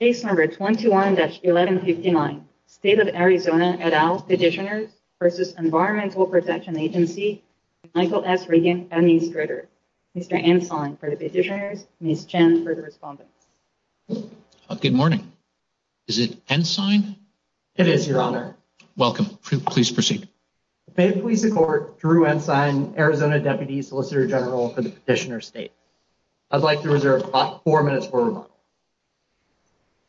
Case number 21-1159, State of Arizona et al. Petitioners v. Environmental Protection Agency Michael S. Regan, Administrator. Mr. Ensign for the Petitioners, Ms. Chen for the Respondents. Good morning. Is it Ensign? It is, Your Honor. Welcome. Please proceed. The Bay of Pleasant Court, Drew Ensign, Arizona Deputy Solicitor General for the Petitioner State. I'd like to reserve about four minutes for rebuttal.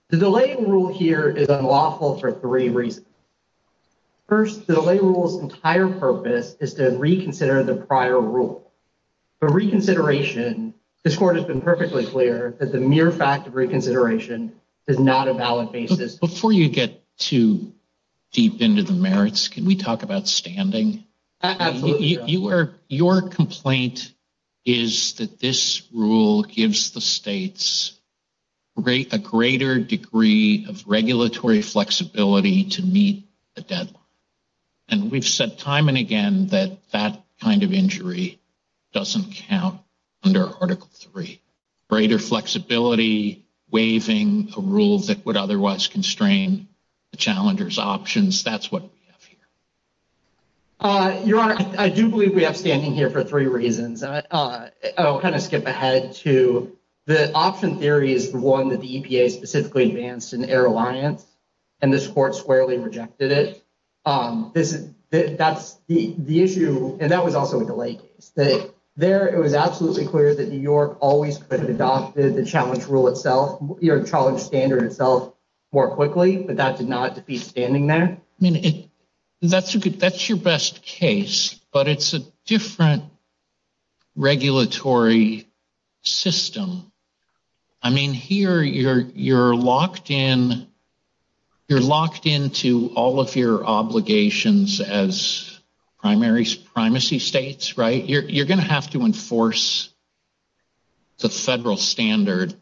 The delay in rule here is unlawful for three reasons. First, the delay rule's entire purpose is to reconsider the prior rule. For reconsideration, this Court has been perfectly clear that the mere fact of reconsideration is not a valid basis. Before you get too deep into the merits, can we talk about standing? Absolutely, Your Honor. The point is that this rule gives the states a greater degree of regulatory flexibility to meet the deadline. And we've said time and again that that kind of injury doesn't count under Article III. Greater flexibility waiving a rule that would otherwise constrain the challenger's options, that's what we have here. Your Honor, I do believe we have standing here for three reasons. I'll kind of skip ahead to the option theory is the one that the EPA specifically advanced in Air Alliance, and this Court squarely rejected it. That's the issue, and that was also a delay case. There, it was absolutely clear that New York always could have adopted the challenge rule itself, the challenge standard itself, more quickly. But that did not defeat standing there. That's your best case, but it's a different regulatory system. I mean, here you're locked in to all of your obligations as primacy states, right? You're going to have to enforce the federal standard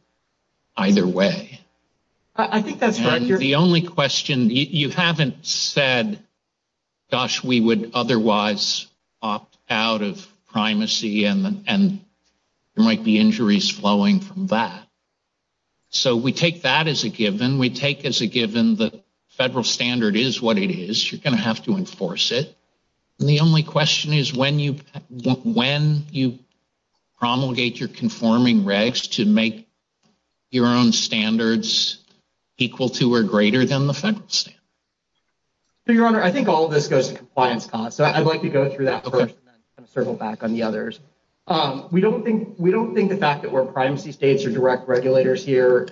either way. I think that's right. The only question, you haven't said, gosh, we would otherwise opt out of primacy, and there might be injuries flowing from that. So we take that as a given. We take as a given the federal standard is what it is. You're going to have to enforce it. The only question is when you promulgate your conforming regs to make your own standards equal to or greater than the federal standard. Your Honor, I think all of this goes to compliance costs, so I'd like to go through that first and then circle back on the others. We don't think the fact that we're primacy states or direct regulators here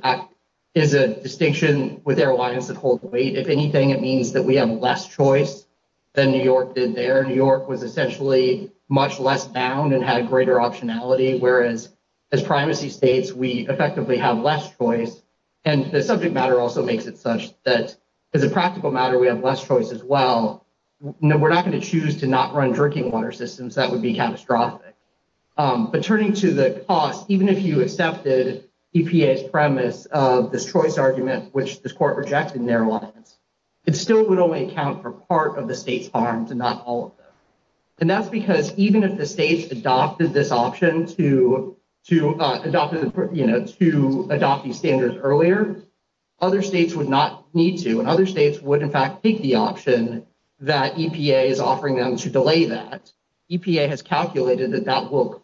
is a distinction with airlines that hold the weight. If anything, it means that we have less choice than New York did there. New York was essentially much less bound and had greater optionality, whereas as primacy states, we effectively have less choice. And the subject matter also makes it such that as a practical matter, we have less choice as well. We're not going to choose to not run drinking water systems. That would be catastrophic. But turning to the cost, even if you accepted EPA's premise of this choice argument, which this court rejected in their lines, it still would only account for part of the state's harms and not all of them. And that's because even if the states adopted this option to adopt these standards earlier, other states would not need to. And other states would, in fact, take the option that EPA is offering them to delay that. EPA has calculated that that will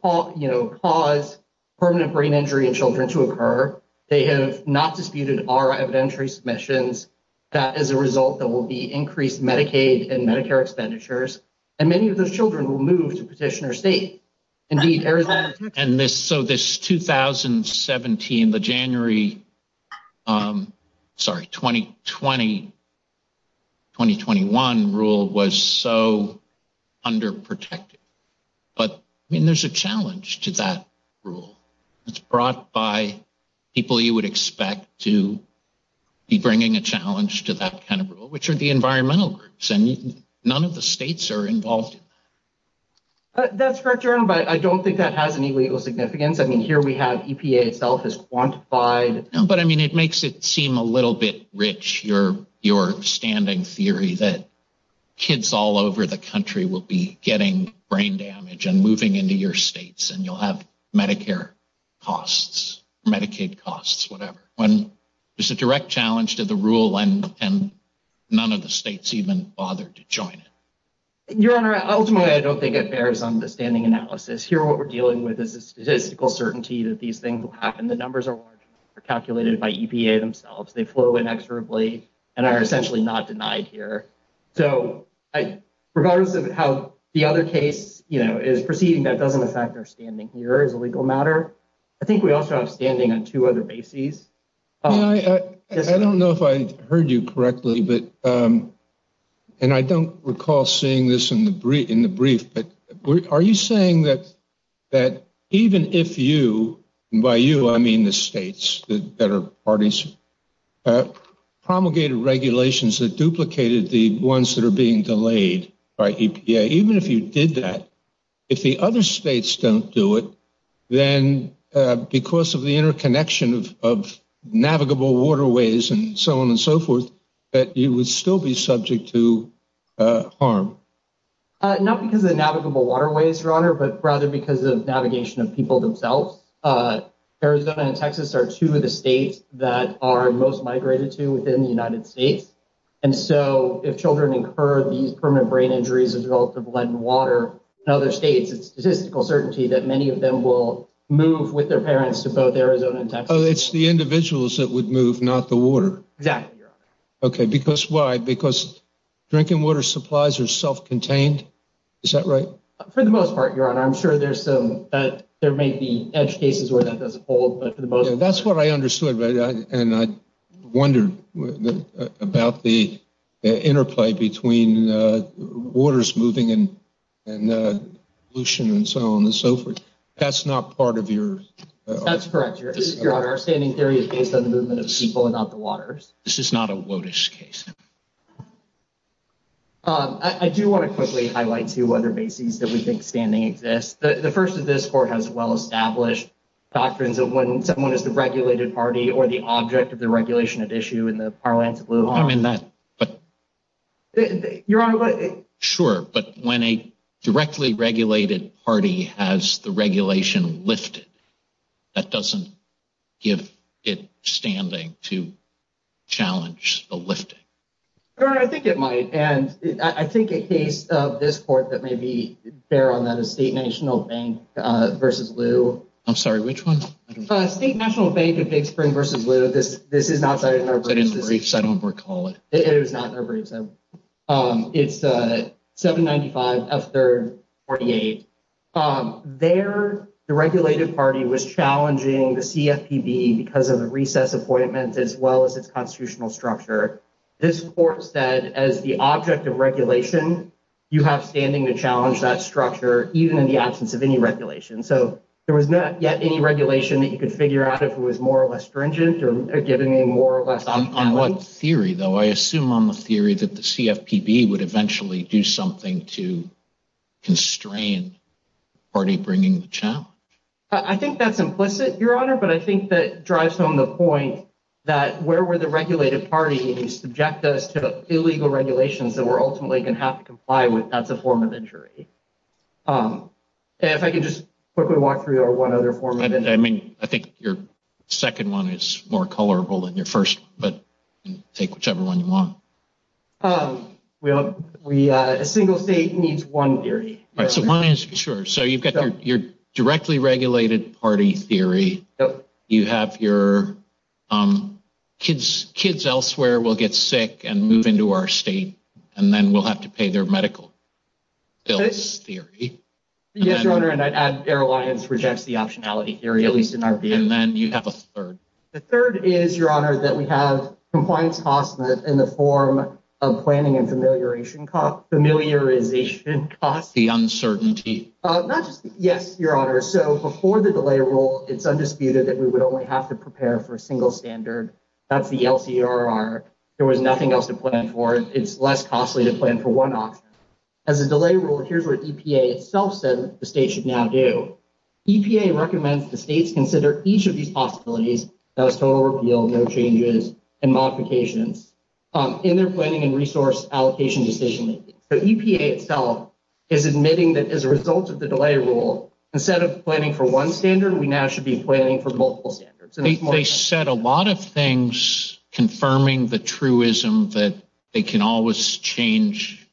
cause permanent brain injury in children to occur. They have not disputed our evidentiary submissions. That is a result that will be increased Medicaid and Medicare expenditures. And many of those children will move to petitioner state. And so this 2017, the January, sorry, 2020, 2021 rule was so underprotected. But I mean, there's a challenge to that rule. It's brought by people you would expect to be bringing a challenge to that kind of rule, which are the environmental groups. And none of the states are involved. That's correct. But I don't think that has any legal significance. I mean, here we have EPA itself is quantified. But I mean, it makes it seem a little bit rich. Your your standing theory that kids all over the country will be getting brain damage and moving into your states and you'll have Medicare costs, Medicaid costs, whatever. When there's a direct challenge to the rule and none of the states even bothered to join it. Your Honor, ultimately, I don't think it bears on the standing analysis here. What we're dealing with is a statistical certainty that these things will happen. The numbers are calculated by EPA themselves. They flow inexorably and are essentially not denied here. So regardless of how the other case is proceeding, that doesn't affect our standing here as a legal matter. I think we also have standing on two other bases. I don't know if I heard you correctly. And I don't recall seeing this in the brief. But are you saying that that even if you buy you, I mean, the states that are parties promulgated regulations that duplicated the ones that are being delayed by EPA, even if you did that, if the other states don't do it, then because of the interconnection of navigable waterways and so on and so forth, that you would still be subject to harm? Not because of navigable waterways, Your Honor, but rather because of navigation of people themselves. Arizona and Texas are two of the states that are most migrated to within the United States. And so if children incur these permanent brain injuries as a result of lead in water in other states, it's statistical certainty that many of them will move with their parents to both Arizona and Texas. It's the individuals that would move, not the water. Exactly. OK, because why? Because drinking water supplies are self-contained. Is that right? For the most part, Your Honor, I'm sure there's some that there may be edge cases where that doesn't hold. That's what I understood. And I wondered about the interplay between waters moving and pollution and so on and so forth. That's not part of your... That's correct, Your Honor. Our standing theory is based on the movement of people and not the waters. This is not a WOTUS case. I do want to quickly highlight two other bases that we think standing exists. The first of this court has well-established doctrines of when someone is the regulated party or the object of the regulation at issue in the Parliaments of Lujan. I mean that, but... Your Honor, but... Sure, but when a directly regulated party has the regulation lifted, that doesn't give it standing to challenge the lifting. Your Honor, I think it might. And I think a case of this court that may be fair on that is State National Bank v. Liu. I'm sorry, which one? State National Bank of Big Spring v. Liu. This is not cited in our briefs. It's not in the briefs. I don't recall it. It is not in our briefs. It's 795 F. 3rd 48. There, the regulated party was challenging the CFPB because of the recess appointment as well as its constitutional structure. This court said as the object of regulation, you have standing to challenge that structure even in the absence of any regulation. So there was not yet any regulation that you could figure out if it was more or less stringent or giving more or less... On what theory, though? I assume on the theory that the CFPB would eventually do something to constrain the party bringing the challenge. I think that's implicit, Your Honor, but I think that drives home the point that where were the regulated parties subject us to illegal regulations that we're ultimately going to have to comply with? That's a form of injury. If I could just quickly walk through one other form of injury. I mean, I think your second one is more colorable than your first, but take whichever one you want. A single state needs one theory. So one is, sure. So you've got your directly regulated party theory. You have your kids. Kids elsewhere will get sick and move into our state and then we'll have to pay their medical bills theory. Yes, Your Honor, and I'd add Air Alliance rejects the optionality theory, at least in our view. And then you have a third. The third is, Your Honor, that we have compliance costs in the form of planning and familiarization costs. The uncertainty. Yes, Your Honor. So before the delay rule, it's undisputed that we would only have to prepare for a single standard. That's the LCRR. There was nothing else to plan for. It's less costly to plan for one option. As a delay rule, here's where EPA itself said the state should now do. EPA recommends the states consider each of these possibilities. That was total repeal, no changes and modifications in their planning and resource allocation decision. The EPA itself is admitting that as a result of the delay rule, instead of planning for one standard, we now should be planning for multiple standards. They said a lot of things confirming the truism that they can always change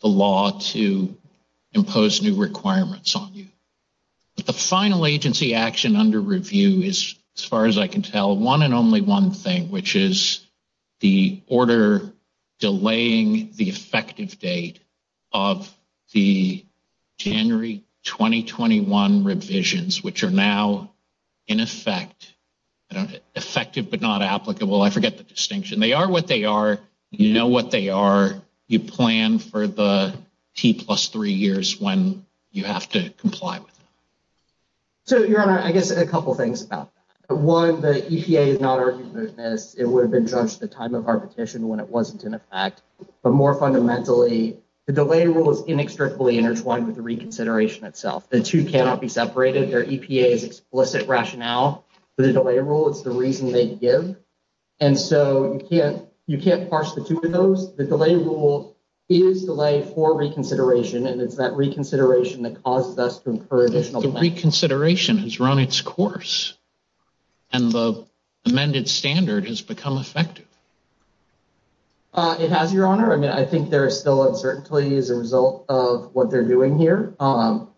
the law to impose new requirements on you. The final agency action under review is, as far as I can tell, one and only one thing, which is the order delaying the effective date of the January 2021 revisions, which are now, in effect, effective but not applicable. I forget the distinction. They are what they are. You know what they are. You plan for the T plus three years when you have to comply with them. Your Honor, I guess a couple of things about that. One, the EPA is not arguing this. It would have been judged at the time of our petition when it wasn't in effect. But more fundamentally, the delay rule is inextricably intertwined with the reconsideration itself. The two cannot be separated. Their EPA's explicit rationale for the delay rule is the reason they give. And so you can't you can't parse the two of those. The delay rule is delay for reconsideration, and it's that reconsideration that causes us to incur additional. The reconsideration has run its course and the amended standard has become effective. It has, Your Honor. I mean, I think there is still uncertainty as a result of what they're doing here. And,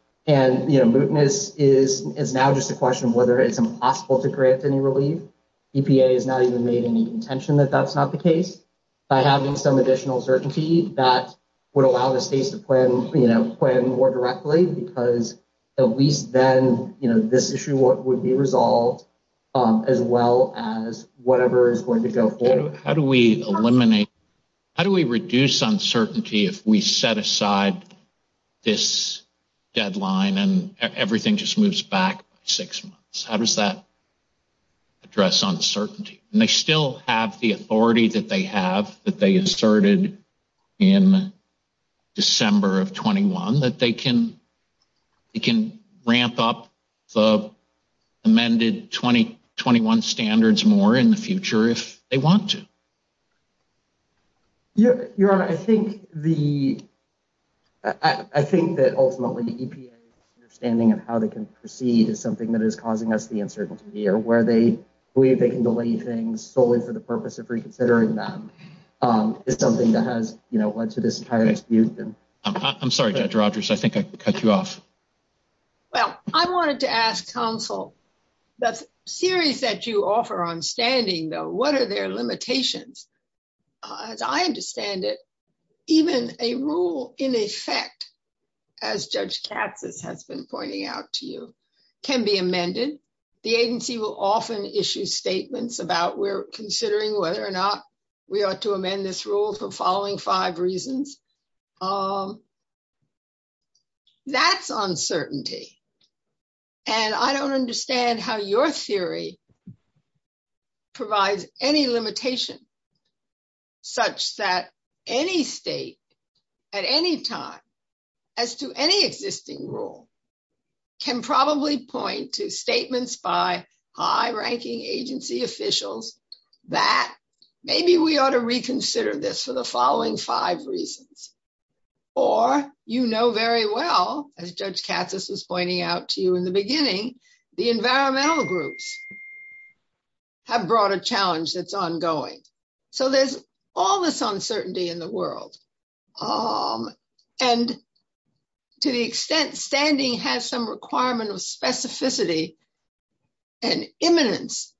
you know, mootness is is now just a question of whether it's impossible to grant any relief. EPA has not even made any intention that that's not the case by having some additional certainty that would allow the states to plan, you know, plan more directly. Because at least then, you know, this issue would be resolved as well as whatever is going to go forward. How do we eliminate how do we reduce uncertainty if we set aside this deadline and everything just moves back six months? How does that address uncertainty? And they still have the authority that they have, that they asserted in December of 21, that they can they can ramp up the amended 2021 standards more in the future if they want to. Your Honor, I think the I think that ultimately the EPA understanding of how they can proceed is something that is causing us the uncertainty here, where they believe they can delay things solely for the purpose of reconsidering them is something that has led to this entire dispute. I'm sorry, Judge Rogers. I think I cut you off. Well, I wanted to ask counsel the series that you offer on standing, though, what are their limitations? As I understand it, even a rule in effect, as Judge Katz has been pointing out to you, can be amended. The agency will often issue statements about we're considering whether or not we ought to amend this rule for following five reasons. That's uncertainty. And I don't understand how your theory provides any limitation. Such that any state at any time as to any existing rule. Can probably point to statements by high ranking agency officials that maybe we ought to reconsider this for the following five reasons. Or, you know, very well, as Judge Katz was pointing out to you in the beginning, the environmental groups. Have brought a challenge that's ongoing. So there's all this uncertainty in the world. And to the extent standing has some requirement of specificity and eminence.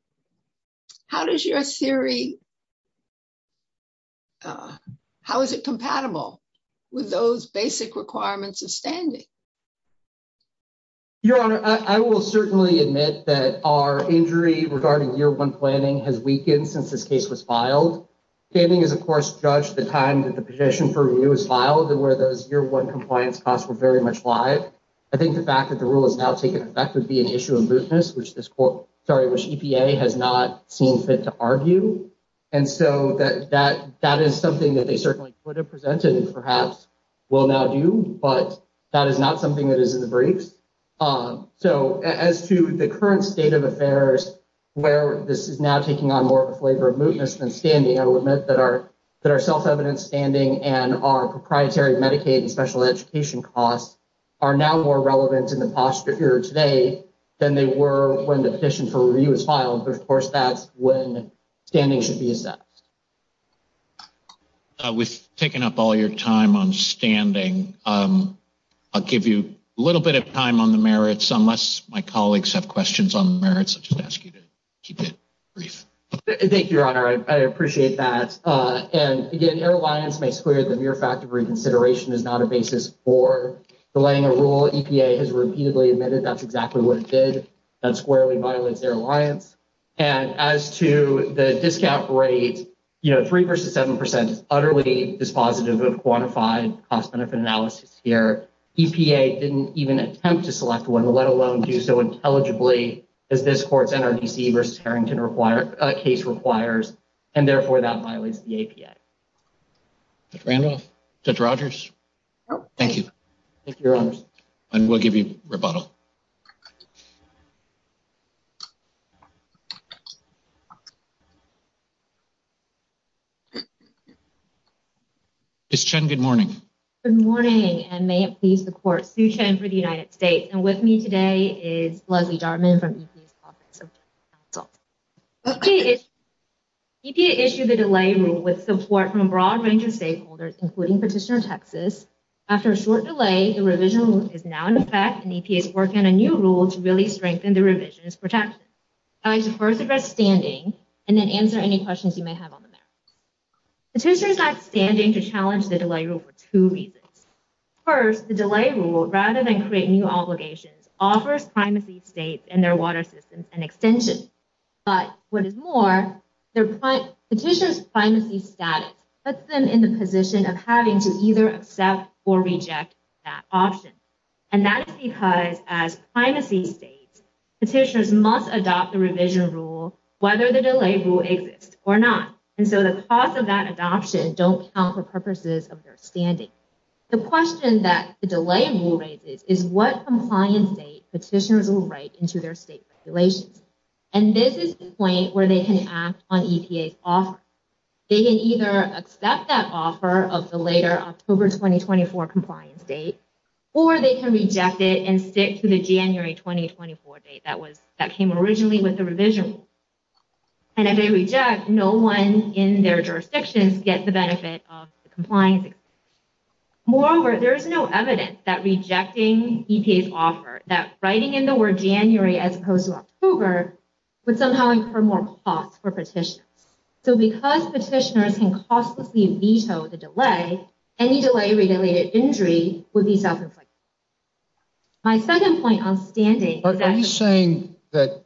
How does your theory. How is it compatible with those basic requirements of standing. Your honor, I will certainly admit that our injury regarding year one planning has weakened since this case was filed. Standing is, of course, judge the time that the petition for review is filed and where those year one compliance costs were very much live. I think the fact that the rule is now taking effect would be an issue of business, which this sorry, which EPA has not seen fit to argue. And so that that that is something that they certainly would have presented and perhaps will now do. But that is not something that is in the briefs. So as to the current state of affairs. Where this is now taking on more of a flavor of mootness than standing element that are that are self-evident standing and are proprietary Medicaid and special education costs. Are now more relevant in the posture here today than they were when the petition for review is filed. Of course, that's when standing should be assessed with taking up all your time on standing. I'll give you a little bit of time on the merits, unless my colleagues have questions on the merits. Just ask you to keep it brief. Thank you, your honor. I appreciate that. And again, our alliance makes clear that your fact of reconsideration is not a basis for delaying a rule. EPA has repeatedly admitted that's exactly what it did. That squarely violates their alliance. And as to the discount rate, three versus seven percent is utterly dispositive of quantified cost benefit analysis here. EPA didn't even attempt to select one, let alone do so intelligibly as this court's NRDC versus Harrington case requires. And therefore, that violates the APA. Randolph, Judge Rogers. Thank you. Thank you. And we'll give you rebuttal. It's Chen. Good morning. Good morning. And may it please the court. Sue Chen for the United States. And with me today is Leslie Dartmouth from EPA's Office of Delay Counsel. EPA issued the delay rule with support from a broad range of stakeholders, including Petitioner Texas. After a short delay, the revision is now in effect and EPA is working on a new rule to really strengthen the revision's protection. I'd like to first address standing and then answer any questions you may have on the merits. Petitioner is not standing to challenge the delay rule for two reasons. First, the delay rule, rather than create new obligations, offers primacy states and their water systems an extension. But what is more, the petitioner's primacy status puts them in the position of having to either accept or reject that option. And that is because as primacy states, petitioners must adopt the revision rule whether the delay rule exists or not. And so the cost of that adoption don't count for purposes of their standing. The question that the delay rule raises is what compliance date petitioners will write into their state regulations. And this is the point where they can act on EPA's offer. They can either accept that offer of the later October 2024 compliance date, or they can reject it and stick to the January 2024 date that was that came originally with the revision. And if they reject, no one in their jurisdictions get the benefit of the compliance. Moreover, there is no evidence that rejecting EPA's offer, that writing in the word January as opposed to October, would somehow incur more costs for petitioners. So because petitioners can costlessly veto the delay, any delay-related injury would be self-inflicted. My second point on standing. Are you saying that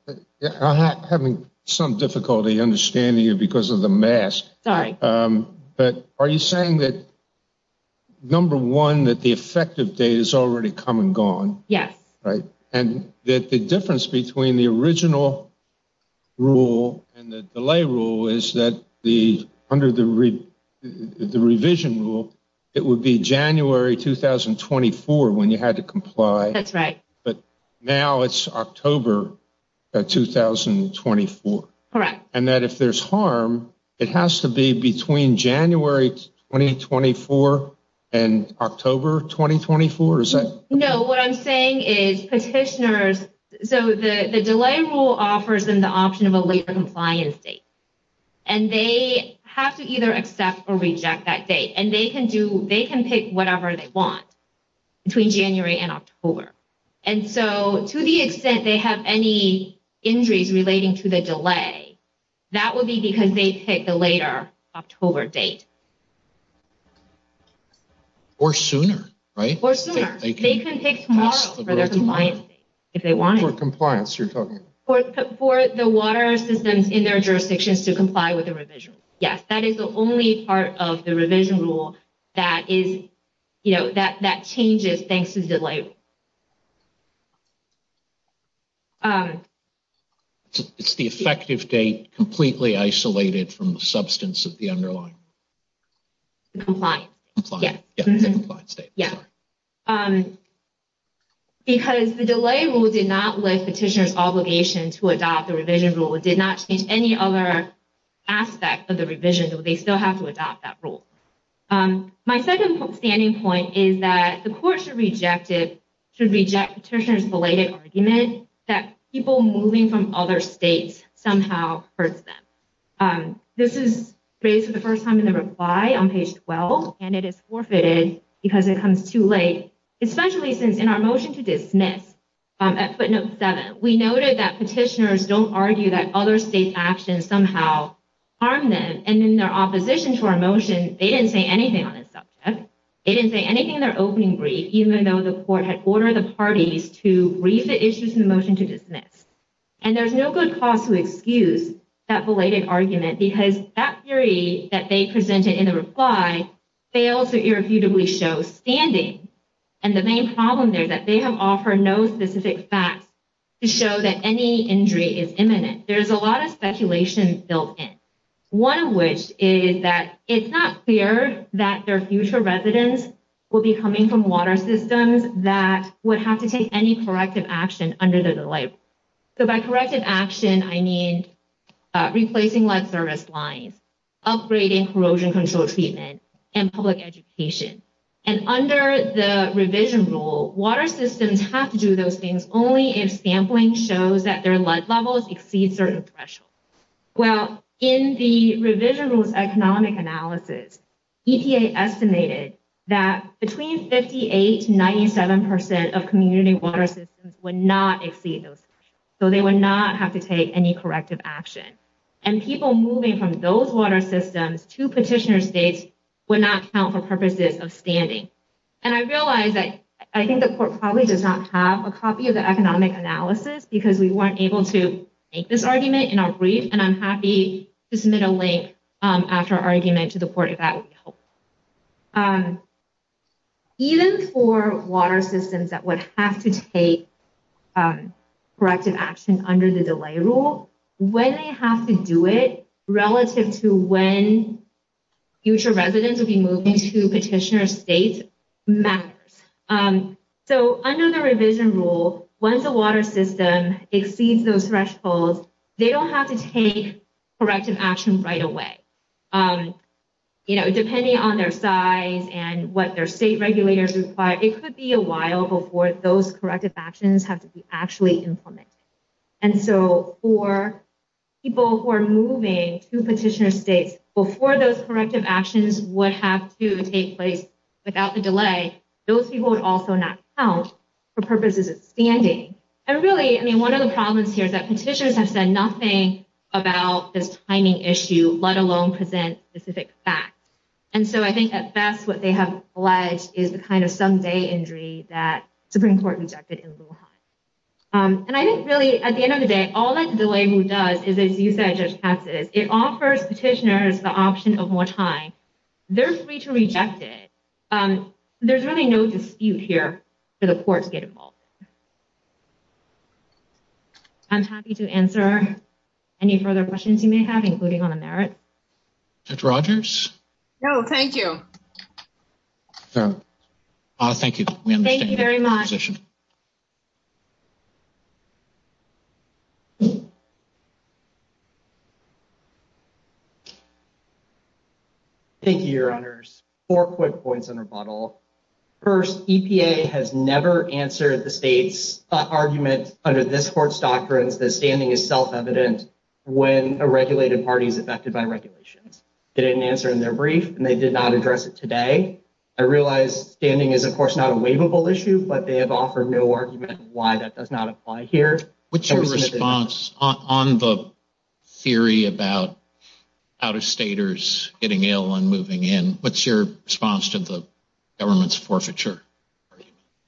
I'm having some difficulty understanding you because of the mask? Sorry. But are you saying that, number one, that the effective date is already come and gone? Yes. Right. And that the difference between the original rule and the delay rule is that under the revision rule, it would be January 2024 when you had to comply. That's right. But now it's October 2024. Correct. And that if there's harm, it has to be between January 2024 and October 2024? No. What I'm saying is petitioners, so the delay rule offers them the option of a later compliance date. And they have to either accept or reject that date. And they can pick whatever they want between January and October. And so to the extent they have any injuries relating to the delay, that would be because they picked the later October date. Or sooner, right? Or sooner. They can pick tomorrow for their compliance date if they wanted. For compliance, you're talking about? For the water systems in their jurisdictions to comply with the revision. Yes. That is the only part of the revision rule that changes thanks to the delay rule. It's the effective date completely isolated from the substance of the underlying? Compliance. Compliance. Yeah. Because the delay rule did not lift petitioners' obligation to adopt the revision rule. It did not change any other aspect of the revision. They still have to adopt that rule. My second standing point is that the court should reject it, should reject petitioners' belated argument that people moving from other states somehow hurts them. This is raised for the first time in the reply on page 12. And it is forfeited because it comes too late. Especially since in our motion to dismiss at footnote 7, we noted that petitioners don't argue that other states' actions somehow harm them. And in their opposition to our motion, they didn't say anything on this subject. They didn't say anything in their opening brief, even though the court had ordered the parties to read the issues in the motion to dismiss. And there's no good cause to excuse that belated argument because that theory that they presented in the reply fails to irrefutably show standing. And the main problem there is that they have offered no specific facts to show that any injury is imminent. There's a lot of speculation built in, one of which is that it's not clear that their future residents will be coming from water systems that would have to take any corrective action under the delay rule. So by corrective action, I mean replacing lead service lines, upgrading corrosion control treatment, and public education. And under the revision rule, water systems have to do those things only if sampling shows that their lead levels exceed certain thresholds. Well, in the revision rule's economic analysis, EPA estimated that between 58% to 97% of community water systems would not exceed those. So they would not have to take any corrective action. And people moving from those water systems to petitioner states would not count for purposes of standing. And I realize that I think the court probably does not have a copy of the economic analysis because we weren't able to make this argument in our brief. And I'm happy to submit a link after our argument to the court if that would be helpful. Even for water systems that would have to take corrective action under the delay rule, when they have to do it relative to when future residents will be moving to petitioner states matters. So under the revision rule, once a water system exceeds those thresholds, they don't have to take corrective action right away. Depending on their size and what their state regulators require, it could be a while before those corrective actions have to be actually implemented. And so for people who are moving to petitioner states, before those corrective actions would have to take place without the delay, those people would also not count for purposes of standing. And really, I mean, one of the problems here is that petitioners have said nothing about this timing issue, let alone present specific facts. And so I think at best what they have alleged is the kind of someday injury that Supreme Court rejected in Lehigh. And I think really, at the end of the day, all that the delay rule does is, as you said, Judge Patsis, it offers petitioners the option of more time. They're free to reject it. There's really no dispute here for the courts to get involved. I'm happy to answer any further questions you may have, including on the merit. Judge Rogers? No, thank you. Thank you. Thank you very much. Thank you, Your Honors. Four quick points on rebuttal. First, EPA has never answered the state's argument under this court's doctrines that standing is self-evident when a regulated party is affected by regulations. They didn't answer in their brief, and they did not address it today. I realize standing is, of course, not a waivable issue, but they have said that standing is self-evident when a regulated party is affected by regulations. They've offered no argument on why that does not apply here. What's your response on the theory about out-of-staters getting ill and moving in? What's your response to the government's forfeiture?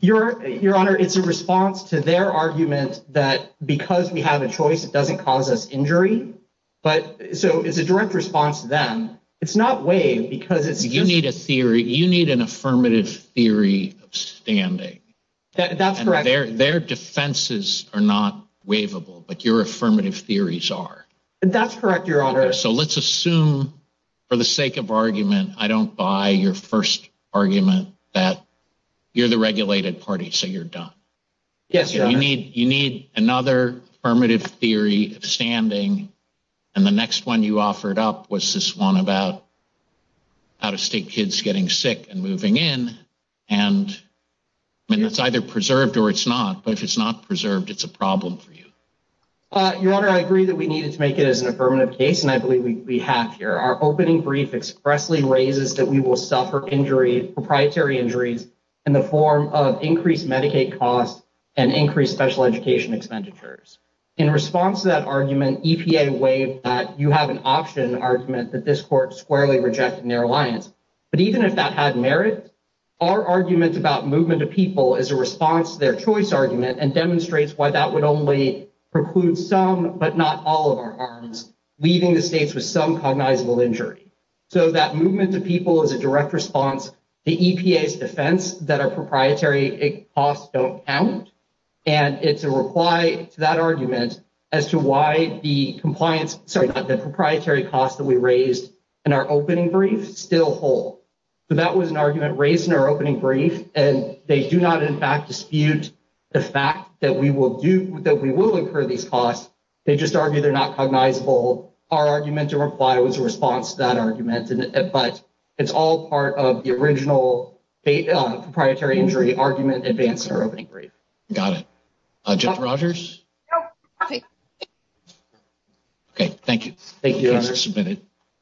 Your Honor, it's a response to their argument that because we have a choice, it doesn't cause us injury. So it's a direct response to them. It's not waived because it's— You need an affirmative theory of standing. That's correct. Their defenses are not waivable, but your affirmative theories are. That's correct, Your Honor. So let's assume, for the sake of argument, I don't buy your first argument that you're the regulated party, so you're done. Yes, Your Honor. You need another affirmative theory of standing, and the next one you offered up was this one about out-of-state kids getting sick and moving in, and it's either preserved or it's not. But if it's not preserved, it's a problem for you. Your Honor, I agree that we needed to make it as an affirmative case, and I believe we have here. Our opening brief expressly raises that we will suffer injury, proprietary injuries, in the form of increased Medicaid costs and increased special education expenditures. In response to that argument, EPA waived that you have an option argument that this court squarely rejected in their alliance. But even if that had merit, our argument about movement of people is a response to their choice argument and demonstrates why that would only preclude some but not all of our arms, leaving the states with some cognizable injury. So that movement of people is a direct response to EPA's defense that our proprietary costs don't count, and it's a reply to that argument as to why the proprietary costs that we raised in our opening brief still hold. So that was an argument raised in our opening brief, and they do not, in fact, dispute the fact that we will incur these costs. They just argue they're not cognizable. Our argument to reply was a response to that argument, but it's all part of the original proprietary injury argument advanced in our opening brief. Got it. Judge Rogers? Okay, thank you. Thank you, Your Honor.